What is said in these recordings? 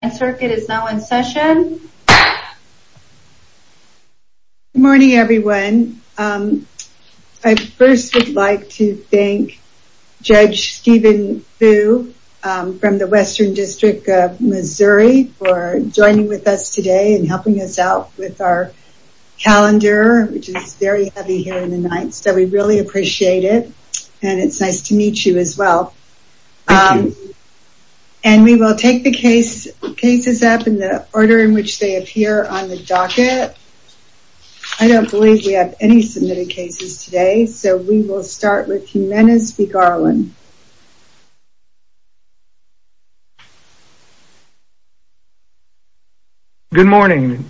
Good morning everyone. I first would like to thank Judge Stephen Vu from the Western District of Missouri for joining with us today and helping us out with our calendar which is very heavy here in the night so we really appreciate it and it's nice to meet you as well. And we will take the cases up in the order in which they appear on the docket. I don't believe we have any submitted cases today so we will start with Jiminez v. Garland. Good morning.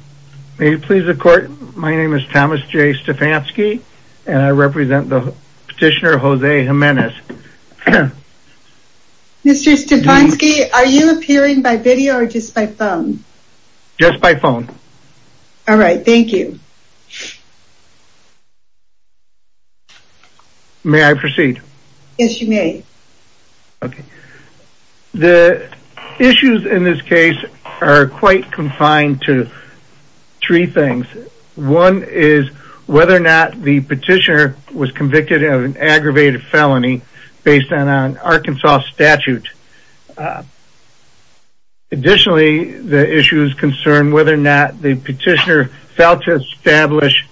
May it please the court, my name is Thomas J. Stefanski and I represent the petitioner Jose Jiminez. Mr. Stefanski are you appearing by video or just by phone? Just by phone. Alright thank you. May I proceed? Yes you may. The issues in this case are quite confined to three things. One is whether or not the petitioner was convicted of an aggravated felony based on an Arkansas statute. Additionally the issue is concerned whether or not the petitioner failed to establish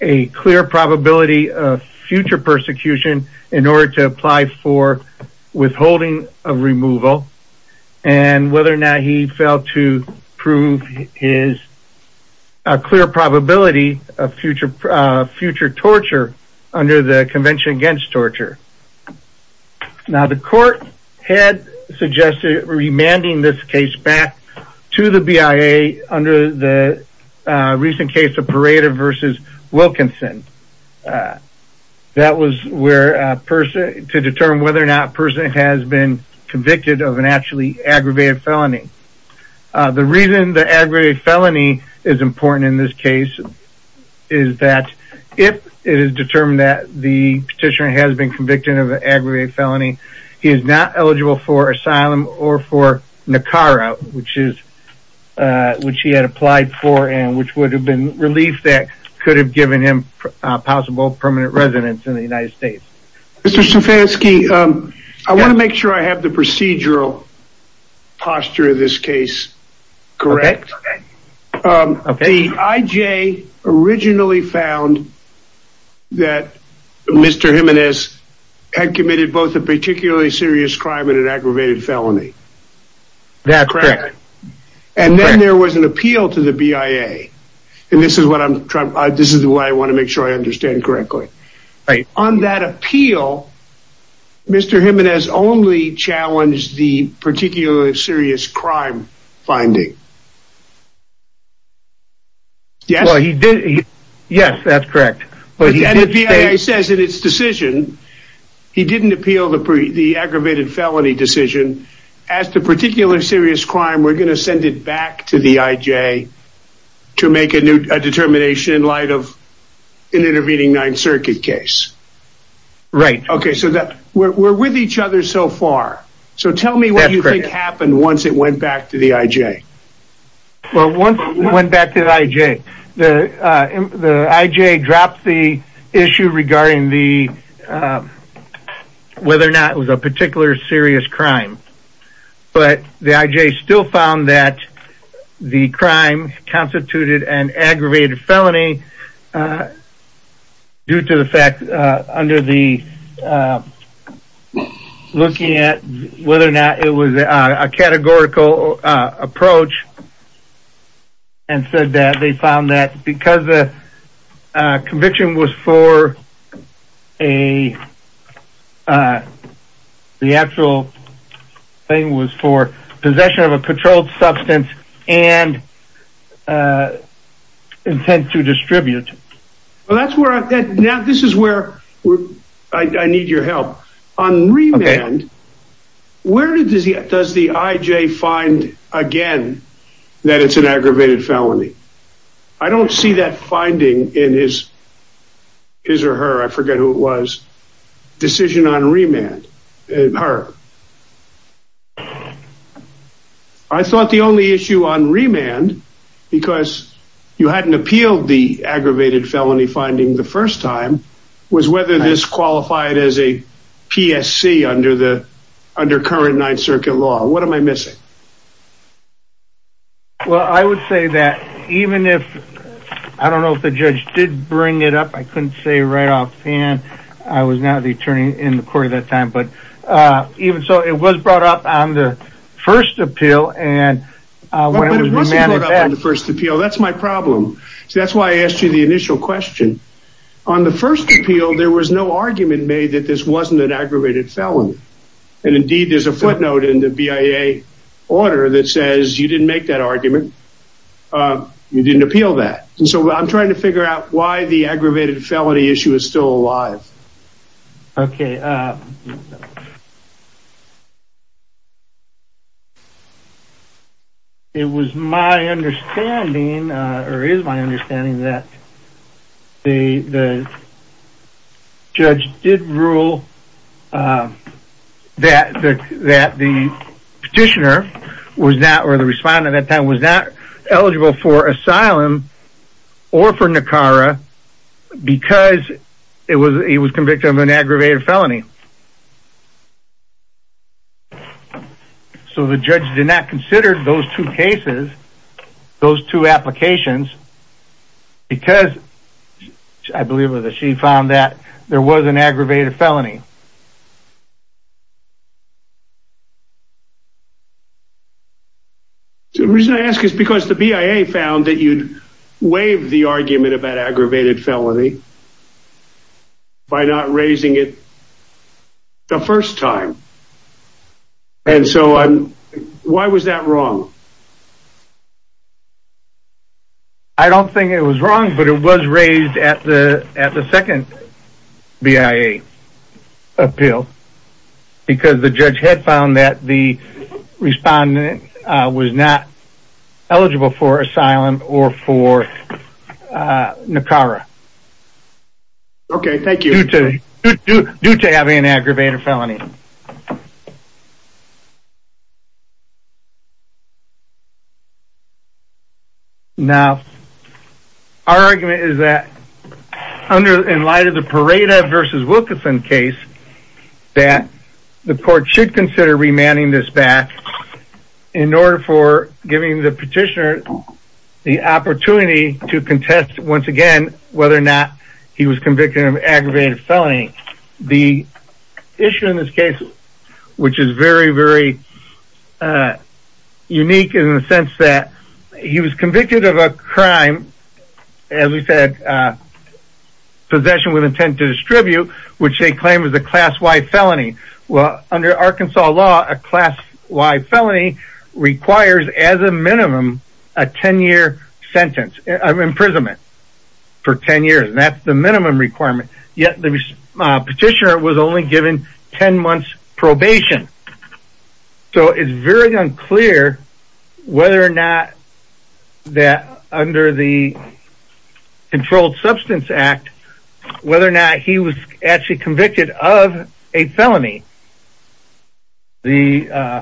a clear probability of future persecution in order to apply for withholding of removal and whether or not he failed to prove his clear probability of future torture under the convention against torture. Now the court had suggested remanding this case back to the BIA under the recent case of Pereira v. Wilkinson. That was to determine whether or not the person has been convicted of an actually aggravated felony. The reason the aggravated felony is important in this case is that if it is determined that the petitioner has been convicted of an aggravated felony, he is not eligible for asylum or for NACARA which he had applied for and which would have relief that could have given him possible permanent residence in the United States. Mr. Stefanski, I want to make sure I have the procedural posture of this case correct. Okay. The IJ originally found that Mr. Jimenez had committed both a particularly serious crime and an aggravated felony. That's correct. And then there was an appeal to the BIA. And this is what I want to make sure I understand correctly. On that appeal, Mr. Jimenez only challenged the particularly serious crime finding. Yes, that's correct. And the BIA says in its decision he didn't appeal the aggravated felony decision, as to particular serious crime, we're going to send it back to the IJ to make a determination in light of an intervening Ninth Circuit case. Right. Okay. So we're with each other so far. So tell me what you think happened once it went back to the IJ. Well, once it went back to the IJ, the IJ dropped the issue regarding the whether or not it was a particular serious crime. But the IJ still found that the crime constituted an aggravated felony due to the fact under the looking at whether or not it was a categorical approach and said that they found that because the conviction was for a, the actual thing was for possession of a patrolled substance and intent to distribute. Well, that's where, now this is where I need your help. On remand, where does the IJ find again that it's an aggravated felony? I don't see that finding in his, his or her, I forget who it was, decision on remand, her. I thought the only issue on remand, because you hadn't appealed the aggravated felony finding the first time was whether this qualified as a PSC under the, under current Ninth Circuit law. What am I missing? Well, I would say that even if, I don't know if the judge did bring it up. I couldn't say right off hand. I was not the attorney in the court at that time, but even so it was brought up on the first appeal and when it was brought up on the first appeal, that's my problem. So that's why I asked you the initial question. On the first appeal, there was no argument made that this wasn't an aggravated felony. And indeed, there's a footnote in the BIA order that says you didn't make that argument. You didn't appeal that. So I'm trying to figure out why the aggravated felony issue is still alive. Okay. It was my understanding or is my was not, or the respondent at that time was not eligible for asylum or for NACARA because it was, he was convicted of an aggravated felony. So the judge did not consider those two cases, those two applications, because I believe it was that she found that there was an aggravated felony. So the reason I ask is because the BIA found that you'd waived the argument about aggravated felony by not raising it the first time. And so why was that wrong? I don't think it was wrong, but it was raised at the, at the second BIA appeal because the judge had found that the respondent was not eligible for asylum or for NACARA. Okay. Thank you. Due to having an aggravated felony. Now, our argument is that under, in light of the Parada versus Wilkerson case, that the court should consider remanding this back in order for giving the petitioner the opportunity to contest once again, whether or not he was convicted of aggravated felony. The issue in this case, which is very, very unique in the sense that he was convicted of a crime, as we said, possession with intent to distribute, which they claim was a class Y felony. Well, under Arkansas law, a class Y felony requires as a minimum, a 10 year sentence of imprisonment for 10 years. And that's the minimum requirement. Yet the petitioner was only given 10 months probation. So it's very unclear whether or not that under the controlled substance act, whether or not he was actually convicted of a felony. The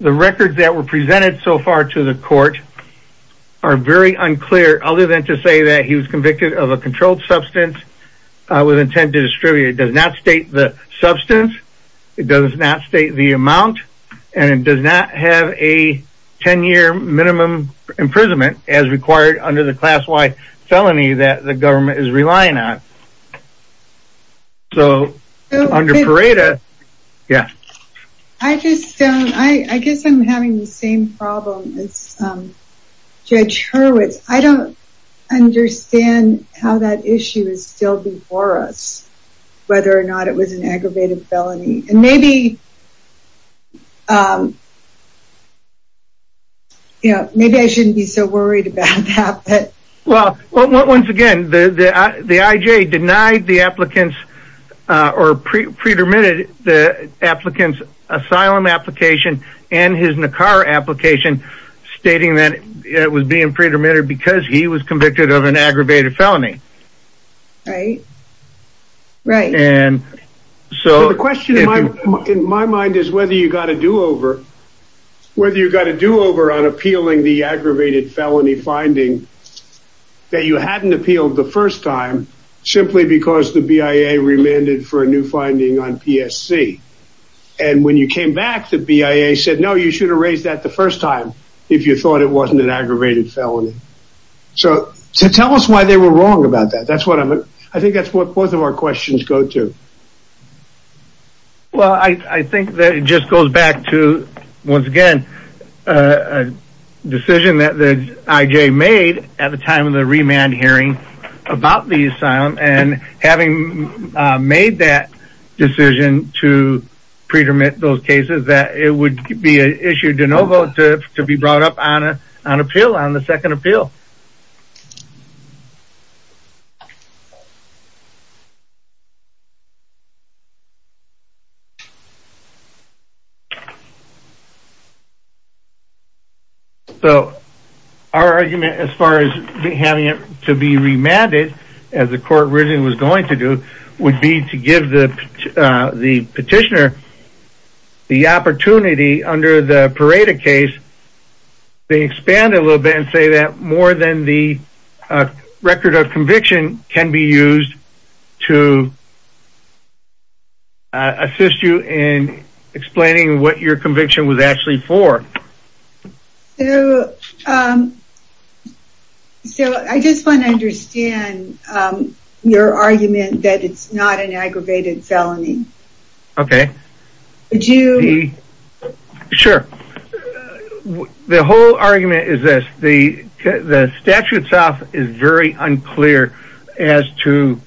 records that were presented so far to the court are very unclear, other than to say that he was convicted of a controlled substance with intent to distribute. It does not state the substance. It does not state the amount, and it does not have a 10 year minimum imprisonment as required under the class Y felony that the government is relying on. So, under Pareda, yeah. I just, I guess I'm having the same problem as Judge Hurwitz. I don't understand how that issue is still before us, whether or not it was an aggravated felony. And maybe, you know, maybe I shouldn't be so worried about that. Well, once again, the IJ denied the applicant's or pre-dermitted the applicant's asylum application and his NACAR application, stating that it was being pre-dermitted because he was convicted of an aggravated felony. Right, right. And so the question in my mind is whether you got a do-over, whether you got a do-over on appealing the aggravated felony finding that you hadn't appealed the first time, simply because the BIA remanded for a new finding on PSC. And when you came back, the BIA said, no, you should have raised that the first time if you thought it wasn't an aggravated felony. So, tell us why they were wrong about that. That's what I'm, I think that's what both of our questions go to. Well, I think that it just goes back to, once again, a decision that the IJ made at the time of the remand hearing about the asylum and having made that decision to pre-dermit those cases, that it would be an issue de novo to be brought up on appeal, on the second appeal. So, our argument as far as having it to be remanded as the court originally was going to do would be to give the petitioner the opportunity under the Pareto case, they expand a little bit and say that more than the record of conviction can be used to assist you in explaining what your conviction was actually for. So, I just want to understand your argument that it's not an aggravated felony. Okay. Would you? Sure. The whole argument is this, the statute itself is very unclear as to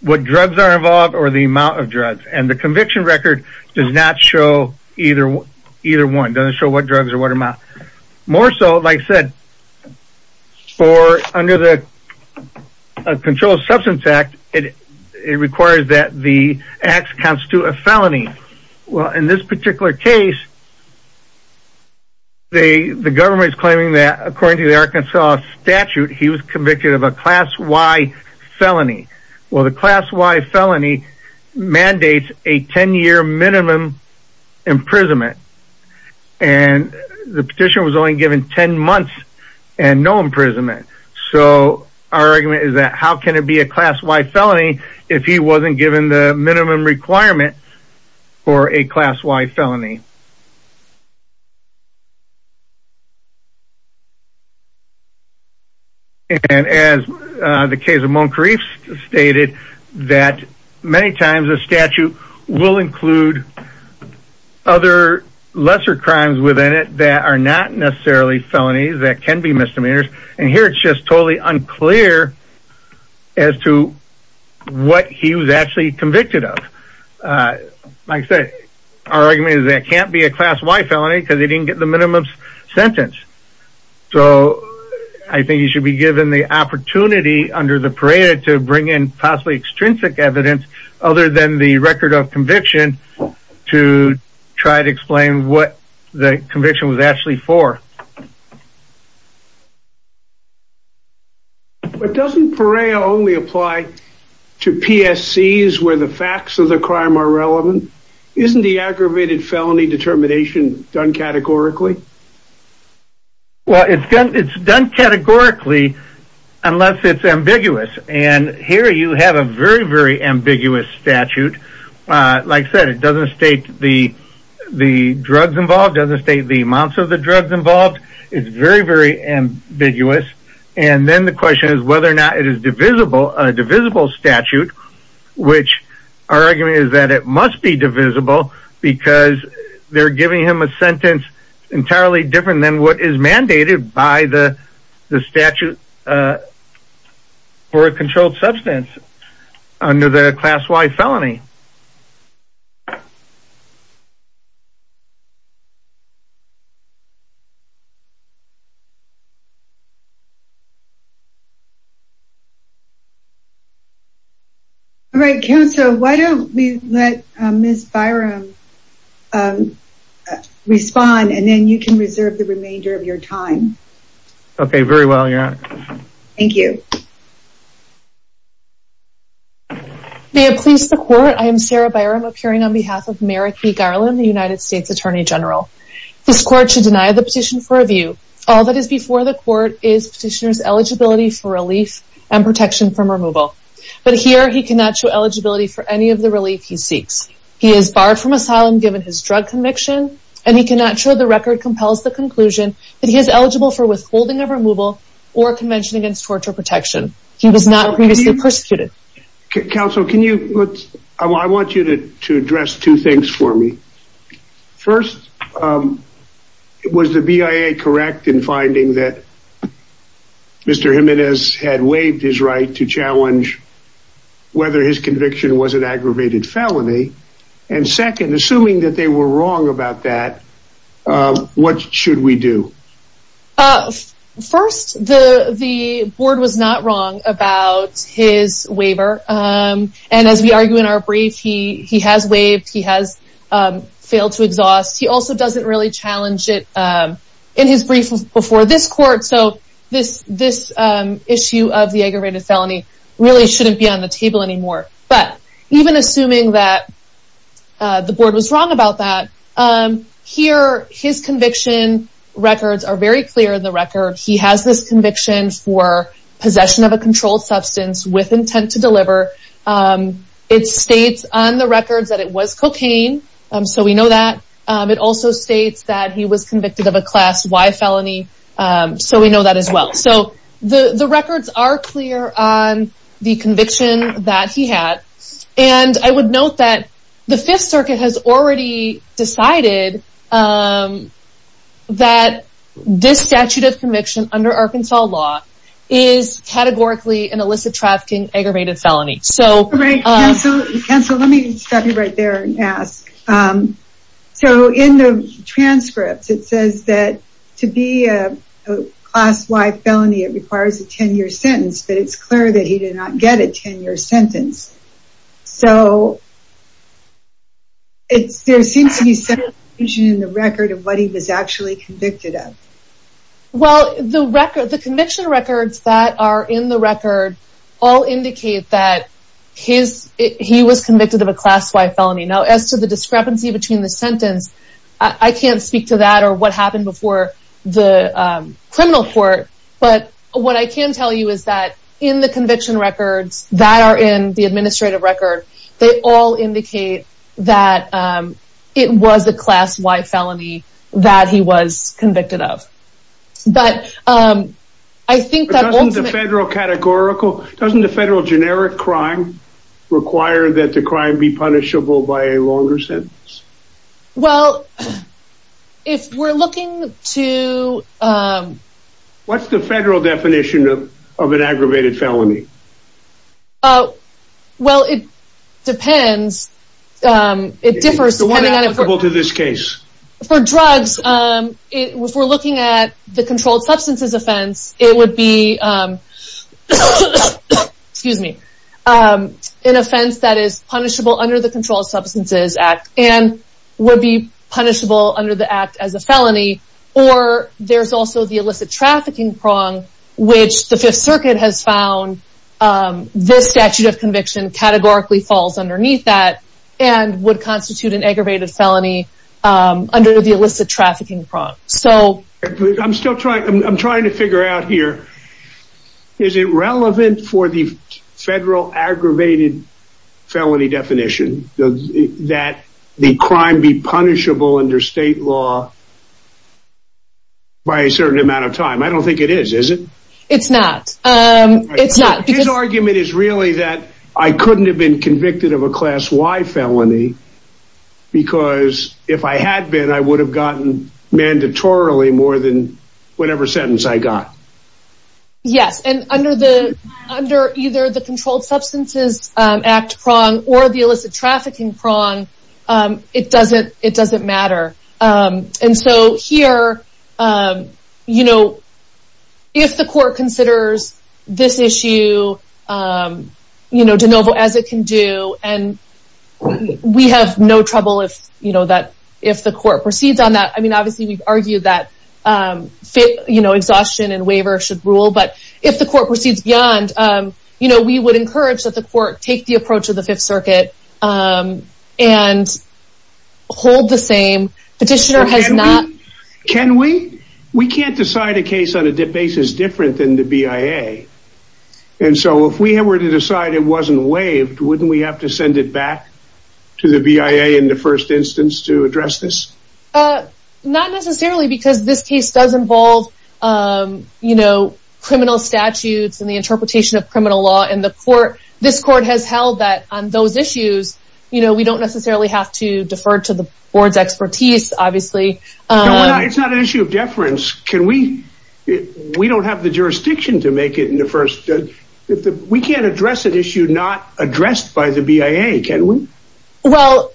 what drugs are involved or the amount of drugs and the conviction record does not show either one, doesn't show what drugs or what amount. More so, like I said, for under the Controlled Substance Act, it requires that the acts constitute a felony. Well, in this particular case, the government is claiming that according to the Arkansas statute, he was convicted of a class Y felony. Well, the class Y felony mandates a 10-year minimum imprisonment and the petition was only given 10 months and no imprisonment. So, our argument is that how can it be a class Y felony if he wasn't given the minimum requirement for a class Y felony? And as the case of Moncrief stated, that many times a statute will include other lesser crimes within it that are not necessarily felonies that can be misdemeanors. And here it's just totally unclear as to what he was actually convicted of. Like I said, our argument is that it can't be a class Y felony because he didn't get the minimum sentence. So, I think he should be given the opportunity under the PAREA to bring in possibly extrinsic evidence other than the record of conviction to try to explain what the conviction was actually for. But doesn't PAREA only apply to PSCs where the facts of the crime are relevant? Isn't the aggravated felony determination done categorically? Well, it's done categorically unless it's ambiguous. And here you have a very, very ambiguous statute. Like I said, it doesn't state the drugs involved, doesn't state the amounts of the drugs involved. It's very, very ambiguous. And then the question is whether or not it's a divisible statute, which our argument is that it must be divisible because they're giving him a sentence entirely different than what is mandated by the statute for a controlled substance under the class Y felony. All right, counsel, why don't we let Ms. Byram respond and then you can reserve the remainder of your time. Okay, very well, your honor. Thank you. May it please the court, I am Sarah Byram appearing on behalf of Merrick B. Garland, the United States Attorney General. This court should deny the petition for review. All that is before the court is petitioner's eligibility for relief and protection from removal. But here he cannot show eligibility for any of the relief he seeks. He is barred from asylum given his drug conviction, and he cannot show the record compels the conclusion that he is eligible for withholding of removal or convention against torture protection. He was not previously persecuted. Counsel, I want you to address two things for me. First, was the BIA correct in finding that Mr. Jimenez had waived his right to challenge whether his conviction was an aggravated felony? And second, assuming that they were wrong about that, what should we do? First, the the board was not wrong about his waiver. And as we argue in brief, he has waived, he has failed to exhaust. He also doesn't really challenge it in his brief before this court. So this issue of the aggravated felony really shouldn't be on the table anymore. But even assuming that the board was wrong about that, here his conviction records are very clear in the record. He has this conviction for possession of a controlled substance with intent to deliver. It states on the records that it was cocaine. So we know that. It also states that he was convicted of a class Y felony. So we know that as well. So the records are clear on the conviction that he had. And I would note that the Fifth Circuit has already decided that this statute of conviction under Arkansas law is categorically an illicit trafficking aggravated felony. So right. So let me stop you right there and ask. So in the transcripts, it says that to be a class Y felony, it requires a 10 year sentence. But it's clear that he did not get a 10 year sentence. So it's there seems to be some confusion in the record of what he was actually convicted of. Well, the record, the conviction records that are in the record all indicate that he was convicted of a class Y felony. Now, as to the discrepancy between the sentence, I can't speak to that or what happened before the criminal court. But what I can tell you is that in the conviction records that are in the administrative record, they all indicate that it was a class Y felony that he was convicted of. But I think the federal categorical doesn't the federal generic crime require that the crime be punishable by a longer sentence? Well, if we're looking to what's the federal definition of an depends, it differs to this case for drugs. If we're looking at the controlled substances offense, it would be excuse me, an offense that is punishable under the Controlled Substances Act and would be punishable under the act as a felony. Or there's also the illicit trafficking prong, which the Fifth Circuit has found this statute of conviction categorically falls underneath that and would constitute an aggravated felony under the illicit trafficking prong. So I'm still trying, I'm trying to figure out here, is it relevant for the federal aggravated felony definition that the crime be punishable under state law by a certain amount of time? I don't think it is, is it? It's not. It's not. His argument is really that I couldn't have been convicted of a class Y felony because if I had been, I would have gotten mandatorily more than whatever sentence I got. Yes. And under the, under either the Controlled Substances Act prong or the illicit trafficking prong, it doesn't, it doesn't matter. And so here, if the court considers this issue de novo as it can do, and we have no trouble if the court proceeds on that. I mean, obviously we've argued that exhaustion and waiver should rule, but if the court proceeds beyond, we would encourage that the court take the approach of the Fifth Circuit and hold the same petitioner has not. Can we, we can't decide a case on a basis different than the BIA. And so if we were to decide it wasn't waived, wouldn't we have to send it back to the BIA in the first instance to address this? Not necessarily because this case does involve, you know, criminal statutes and the interpretation of criminal law and the court, this court has held that on those issues, you know, we don't necessarily have to defer to the board's expertise, obviously. No, it's not an issue of deference. Can we, we don't have the jurisdiction to make it in the first, we can't address an issue not addressed by the BIA, can we? Well,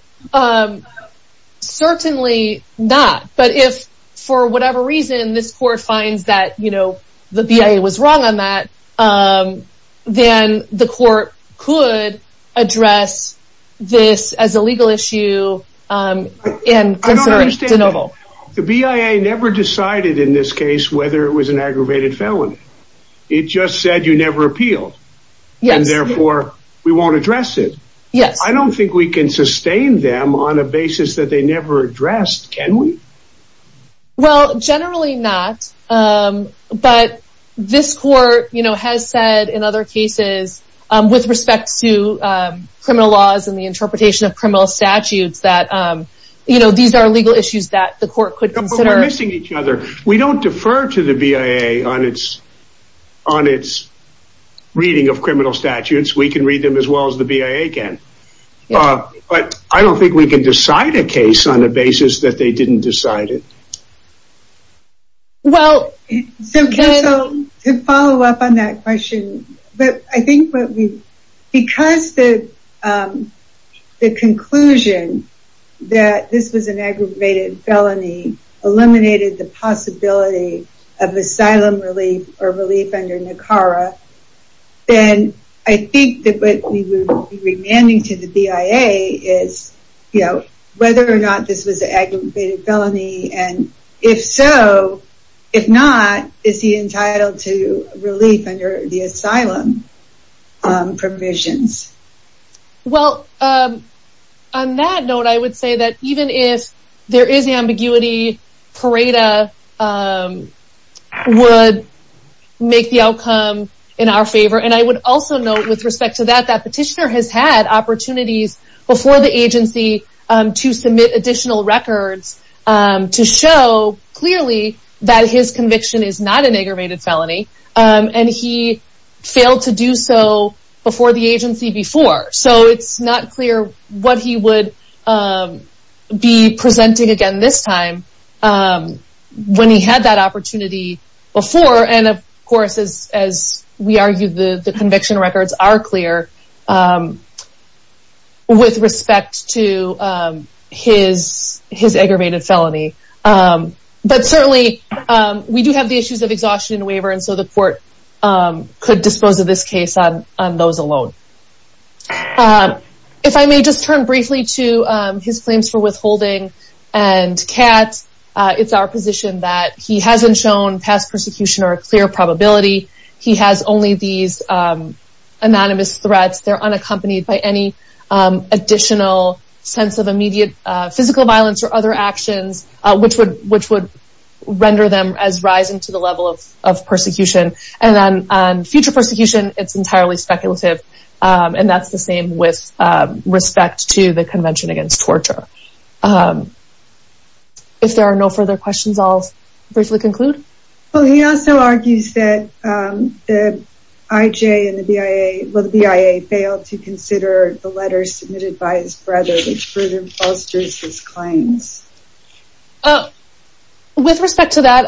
certainly not. But if for whatever reason, this court finds that, you know, the BIA was wrong on that, then the court could address this as a legal issue. And the BIA never decided in this case, whether it was an aggravated felony. It just said you never appealed. Yes, therefore, we won't address it. Yes, I don't think we can sustain them on a basis that they never addressed. Can we? Well, generally not. But this court, you know, has said in other cases, with respect to criminal laws and the interpretation of criminal statutes that, you know, these are legal issues that the court could consider. We're missing each other. We don't defer to the BIA on its, on its reading of criminal statutes, we can read them as well as the BIA can. But I don't think we can decide a case on a basis that they didn't decide it. Well, to follow up on that question, but I think what we, because the conclusion that this was an aggravated felony eliminated the possibility of asylum relief or relief under NACARA, then I think that what we would be demanding to the BIA is, you know, whether or not this was an aggravated felony. And if so, if not, is he entitled to relief under the asylum provisions? Well, on that note, I would say that even if there is ambiguity, PARADA would make the outcome in our favor. And I would also note with respect to that, that petitioner has had opportunities before the agency to submit additional records to show clearly that his conviction is not an aggravated felony. And he failed to do so before the agency before. So it's not clear what he would be presenting again this time when he had that opportunity before. And of course, as we argued, the conviction records are clear with respect to his aggravated felony. But certainly we do have the issues of exhaustion and waiver. And so the court could dispose of this case on those alone. If I may just turn briefly to his claims for withholding and CAT, it's our position that he hasn't shown past persecution or a clear probability. He has only these anonymous threats. They're unaccompanied by any additional sense of immediate physical violence or other actions, which would render them as rising to the level of persecution. And then on future persecution, it's entirely speculative. And that's the same with respect to the Convention Against Torture. If there are no further questions, I'll briefly conclude. Well, he also argues that the IJ and the BIA, well, the BIA failed to consider the letters submitted by his brother, which further bolsters his claims. With respect to that,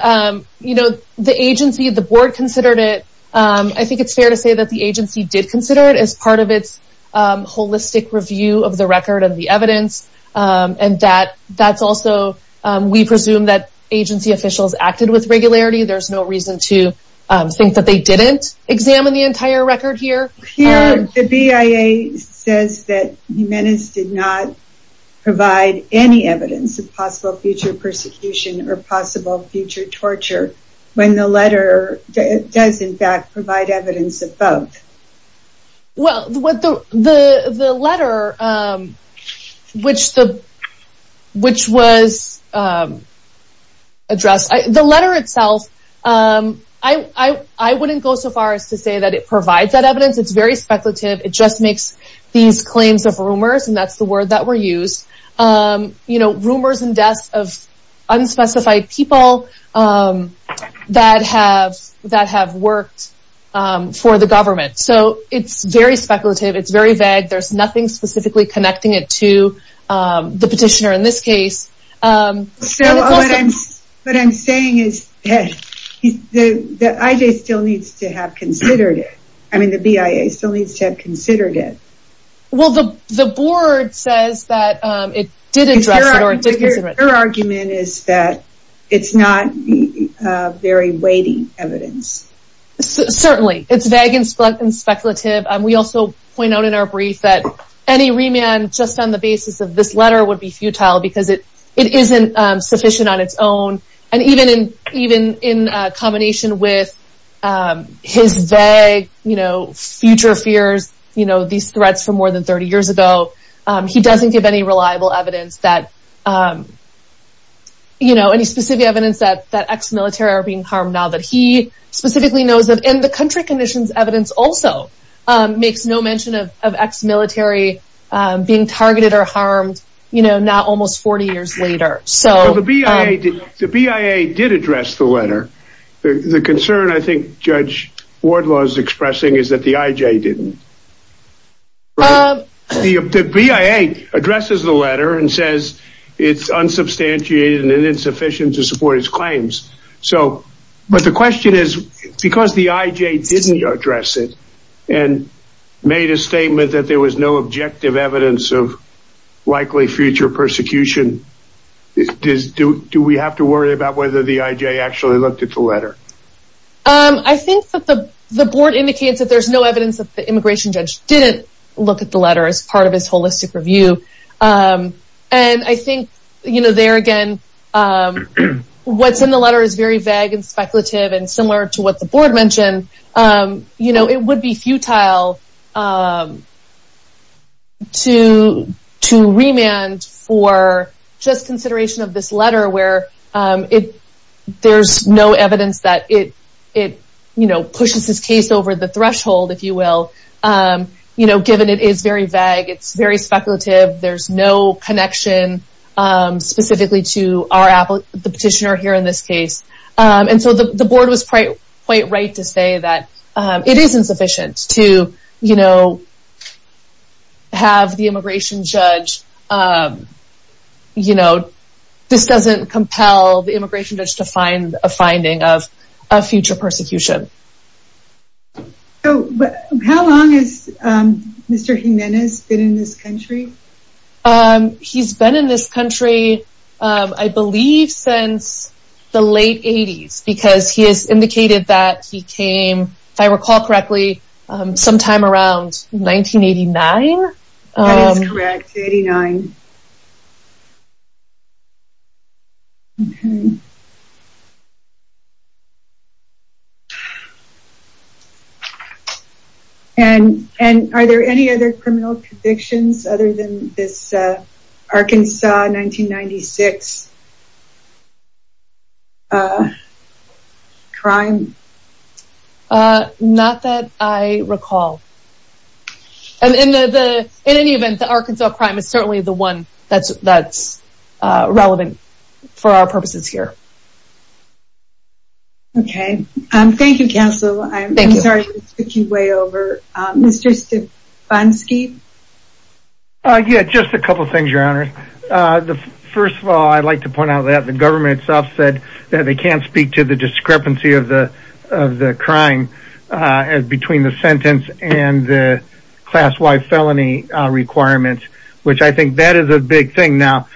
you know, the agency, the board considered it. I think it's fair to say that the agency did consider it as part of its holistic review of the record and the evidence. And that's also, we presume that agency officials acted with regularity. There's no reason to think that they didn't examine the entire record here. Here, the BIA says that Jimenez did not provide any evidence of possible future persecution or possible future torture when the letter does in fact provide evidence of both. Well, what the letter, which was addressed, the letter itself, I wouldn't go so far as to say that it provides that evidence. It's very speculative. It just makes these claims of rumors. And that's the word that were used. You know, rumors and deaths of unspecified people that have worked for the government. So it's very speculative. It's very vague. There's nothing specifically connecting it to the petitioner in this case. What I'm saying is that the IJ still needs to have considered it. I mean, the BIA still needs to have considered it. Well, the board says that it did address it. Your argument is that it's not very weighty evidence. Certainly, it's vague and speculative. And we also point out in our brief that any remand just on the basis of this letter would be futile because it isn't sufficient on its own. And even in combination with his vague, you know, future fears, you know, these threats more than 30 years ago, he doesn't give any reliable evidence that, you know, any specific evidence that ex-military are being harmed now that he specifically knows of. And the country conditions evidence also makes no mention of ex-military being targeted or harmed, you know, now almost 40 years later. The BIA did address the letter. The concern I think Judge Wardlaw is expressing is that the IJ didn't. The BIA addresses the letter and says it's unsubstantiated and insufficient to support its claims. So but the question is, because the IJ didn't address it and made a statement that there was no objective evidence of likely future persecution, do we have to worry about whether the IJ actually looked at the letter? I think that the board indicates that there's no evidence that the immigration judge didn't look at the letter as part of his holistic review. And I think, you know, there again, what's in the letter is very vague and speculative and similar to what the board mentioned. You know, it would be futile to remand for just consideration of this letter where it there's no evidence that it, you know, pushes this case over the threshold, if you will. You know, given it is very vague, it's very speculative. There's no connection specifically to our applicant, the petitioner here in this case. And so the board was quite right to say that it isn't sufficient to, you know, have the immigration judge, you know, this doesn't compel the immigration judge to find a finding of a future persecution. So how long has Mr. Jimenez been in this country? He's been in this country, I believe, since the late 80s, because he has indicated that he came, if I recall correctly, sometime around 1989. That is correct, 89. Okay. And are there any other criminal convictions other than this Arkansas 1996 crime? Not that I recall. And in any event, the Arkansas crime is certainly the one that's relevant for our purposes here. Okay. Thank you, counsel. I'm sorry to take you way over. Mr. Stefanski? Yeah, just a couple things, your honor. The first of all, I'd like to point out that the government itself said that they can't speak to the discrepancy of the crime between the sentence and the class-wide felony requirements, which I think that is a big thing now.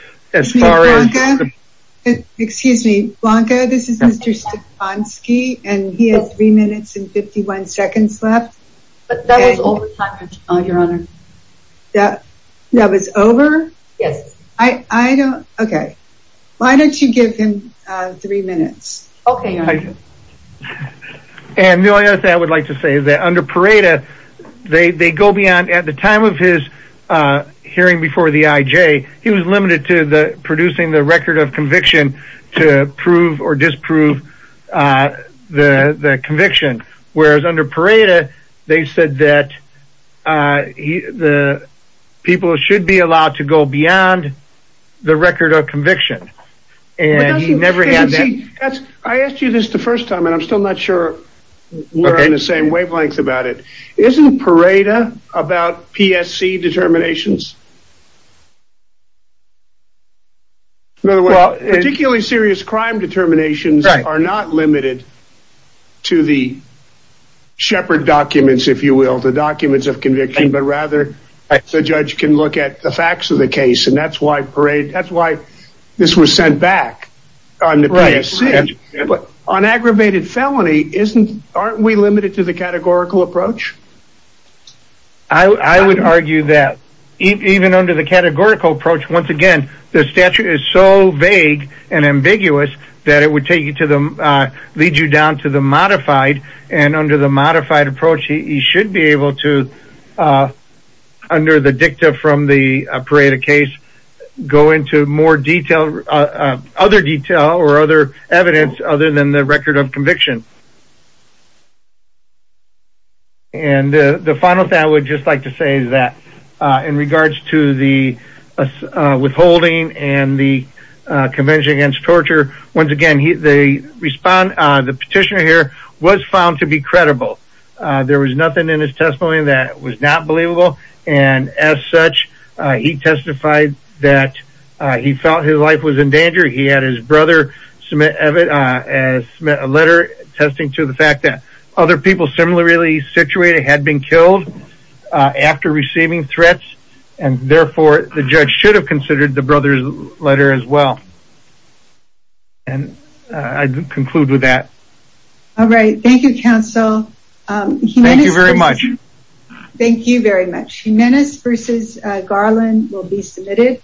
Excuse me, Blanca, this is Mr. Stefanski, and he has three minutes and 51 seconds left. But that was over time, your honor. That was over? Yes. Okay. Why don't you give him three minutes? Okay. And the only other thing I would like to say is that under Pareto, they go beyond, at the time of his hearing before the IJ, he was limited to producing the record of conviction to prove or disprove the conviction. Whereas under Pareto, they said that the people should be allowed to go beyond the record of conviction. And he never had that. I asked you this the first time, and I'm still not sure we're on the same wavelength about it. Isn't Pareto about PSC determinations? Particularly serious crime determinations are not limited to the shepherd documents, if you will, the documents of conviction, but rather the judge can look at the facts of the sent back on the PSC. But on aggravated felony, aren't we limited to the categorical approach? I would argue that even under the categorical approach, once again, the statute is so vague and ambiguous that it would lead you down to the modified. And under the modified approach, he should be able to, under the dicta from the Pareto case, go into more detail, other detail or other evidence other than the record of conviction. And the final thing I would just like to say is that in regards to the withholding and the Convention Against Torture, once again, the petitioner here was found to be credible. There was nothing in his testimony that was not believable. And as such, he testified that he felt his life was in danger. He had his brother submit a letter attesting to the fact that other people similarly situated had been killed after receiving threats. And therefore, the judge should have considered the brother's letter as well. And I conclude with that. All right. Thank you, counsel. Thank you very much. Thank you very much. Jimenez v. Garland will be submitted.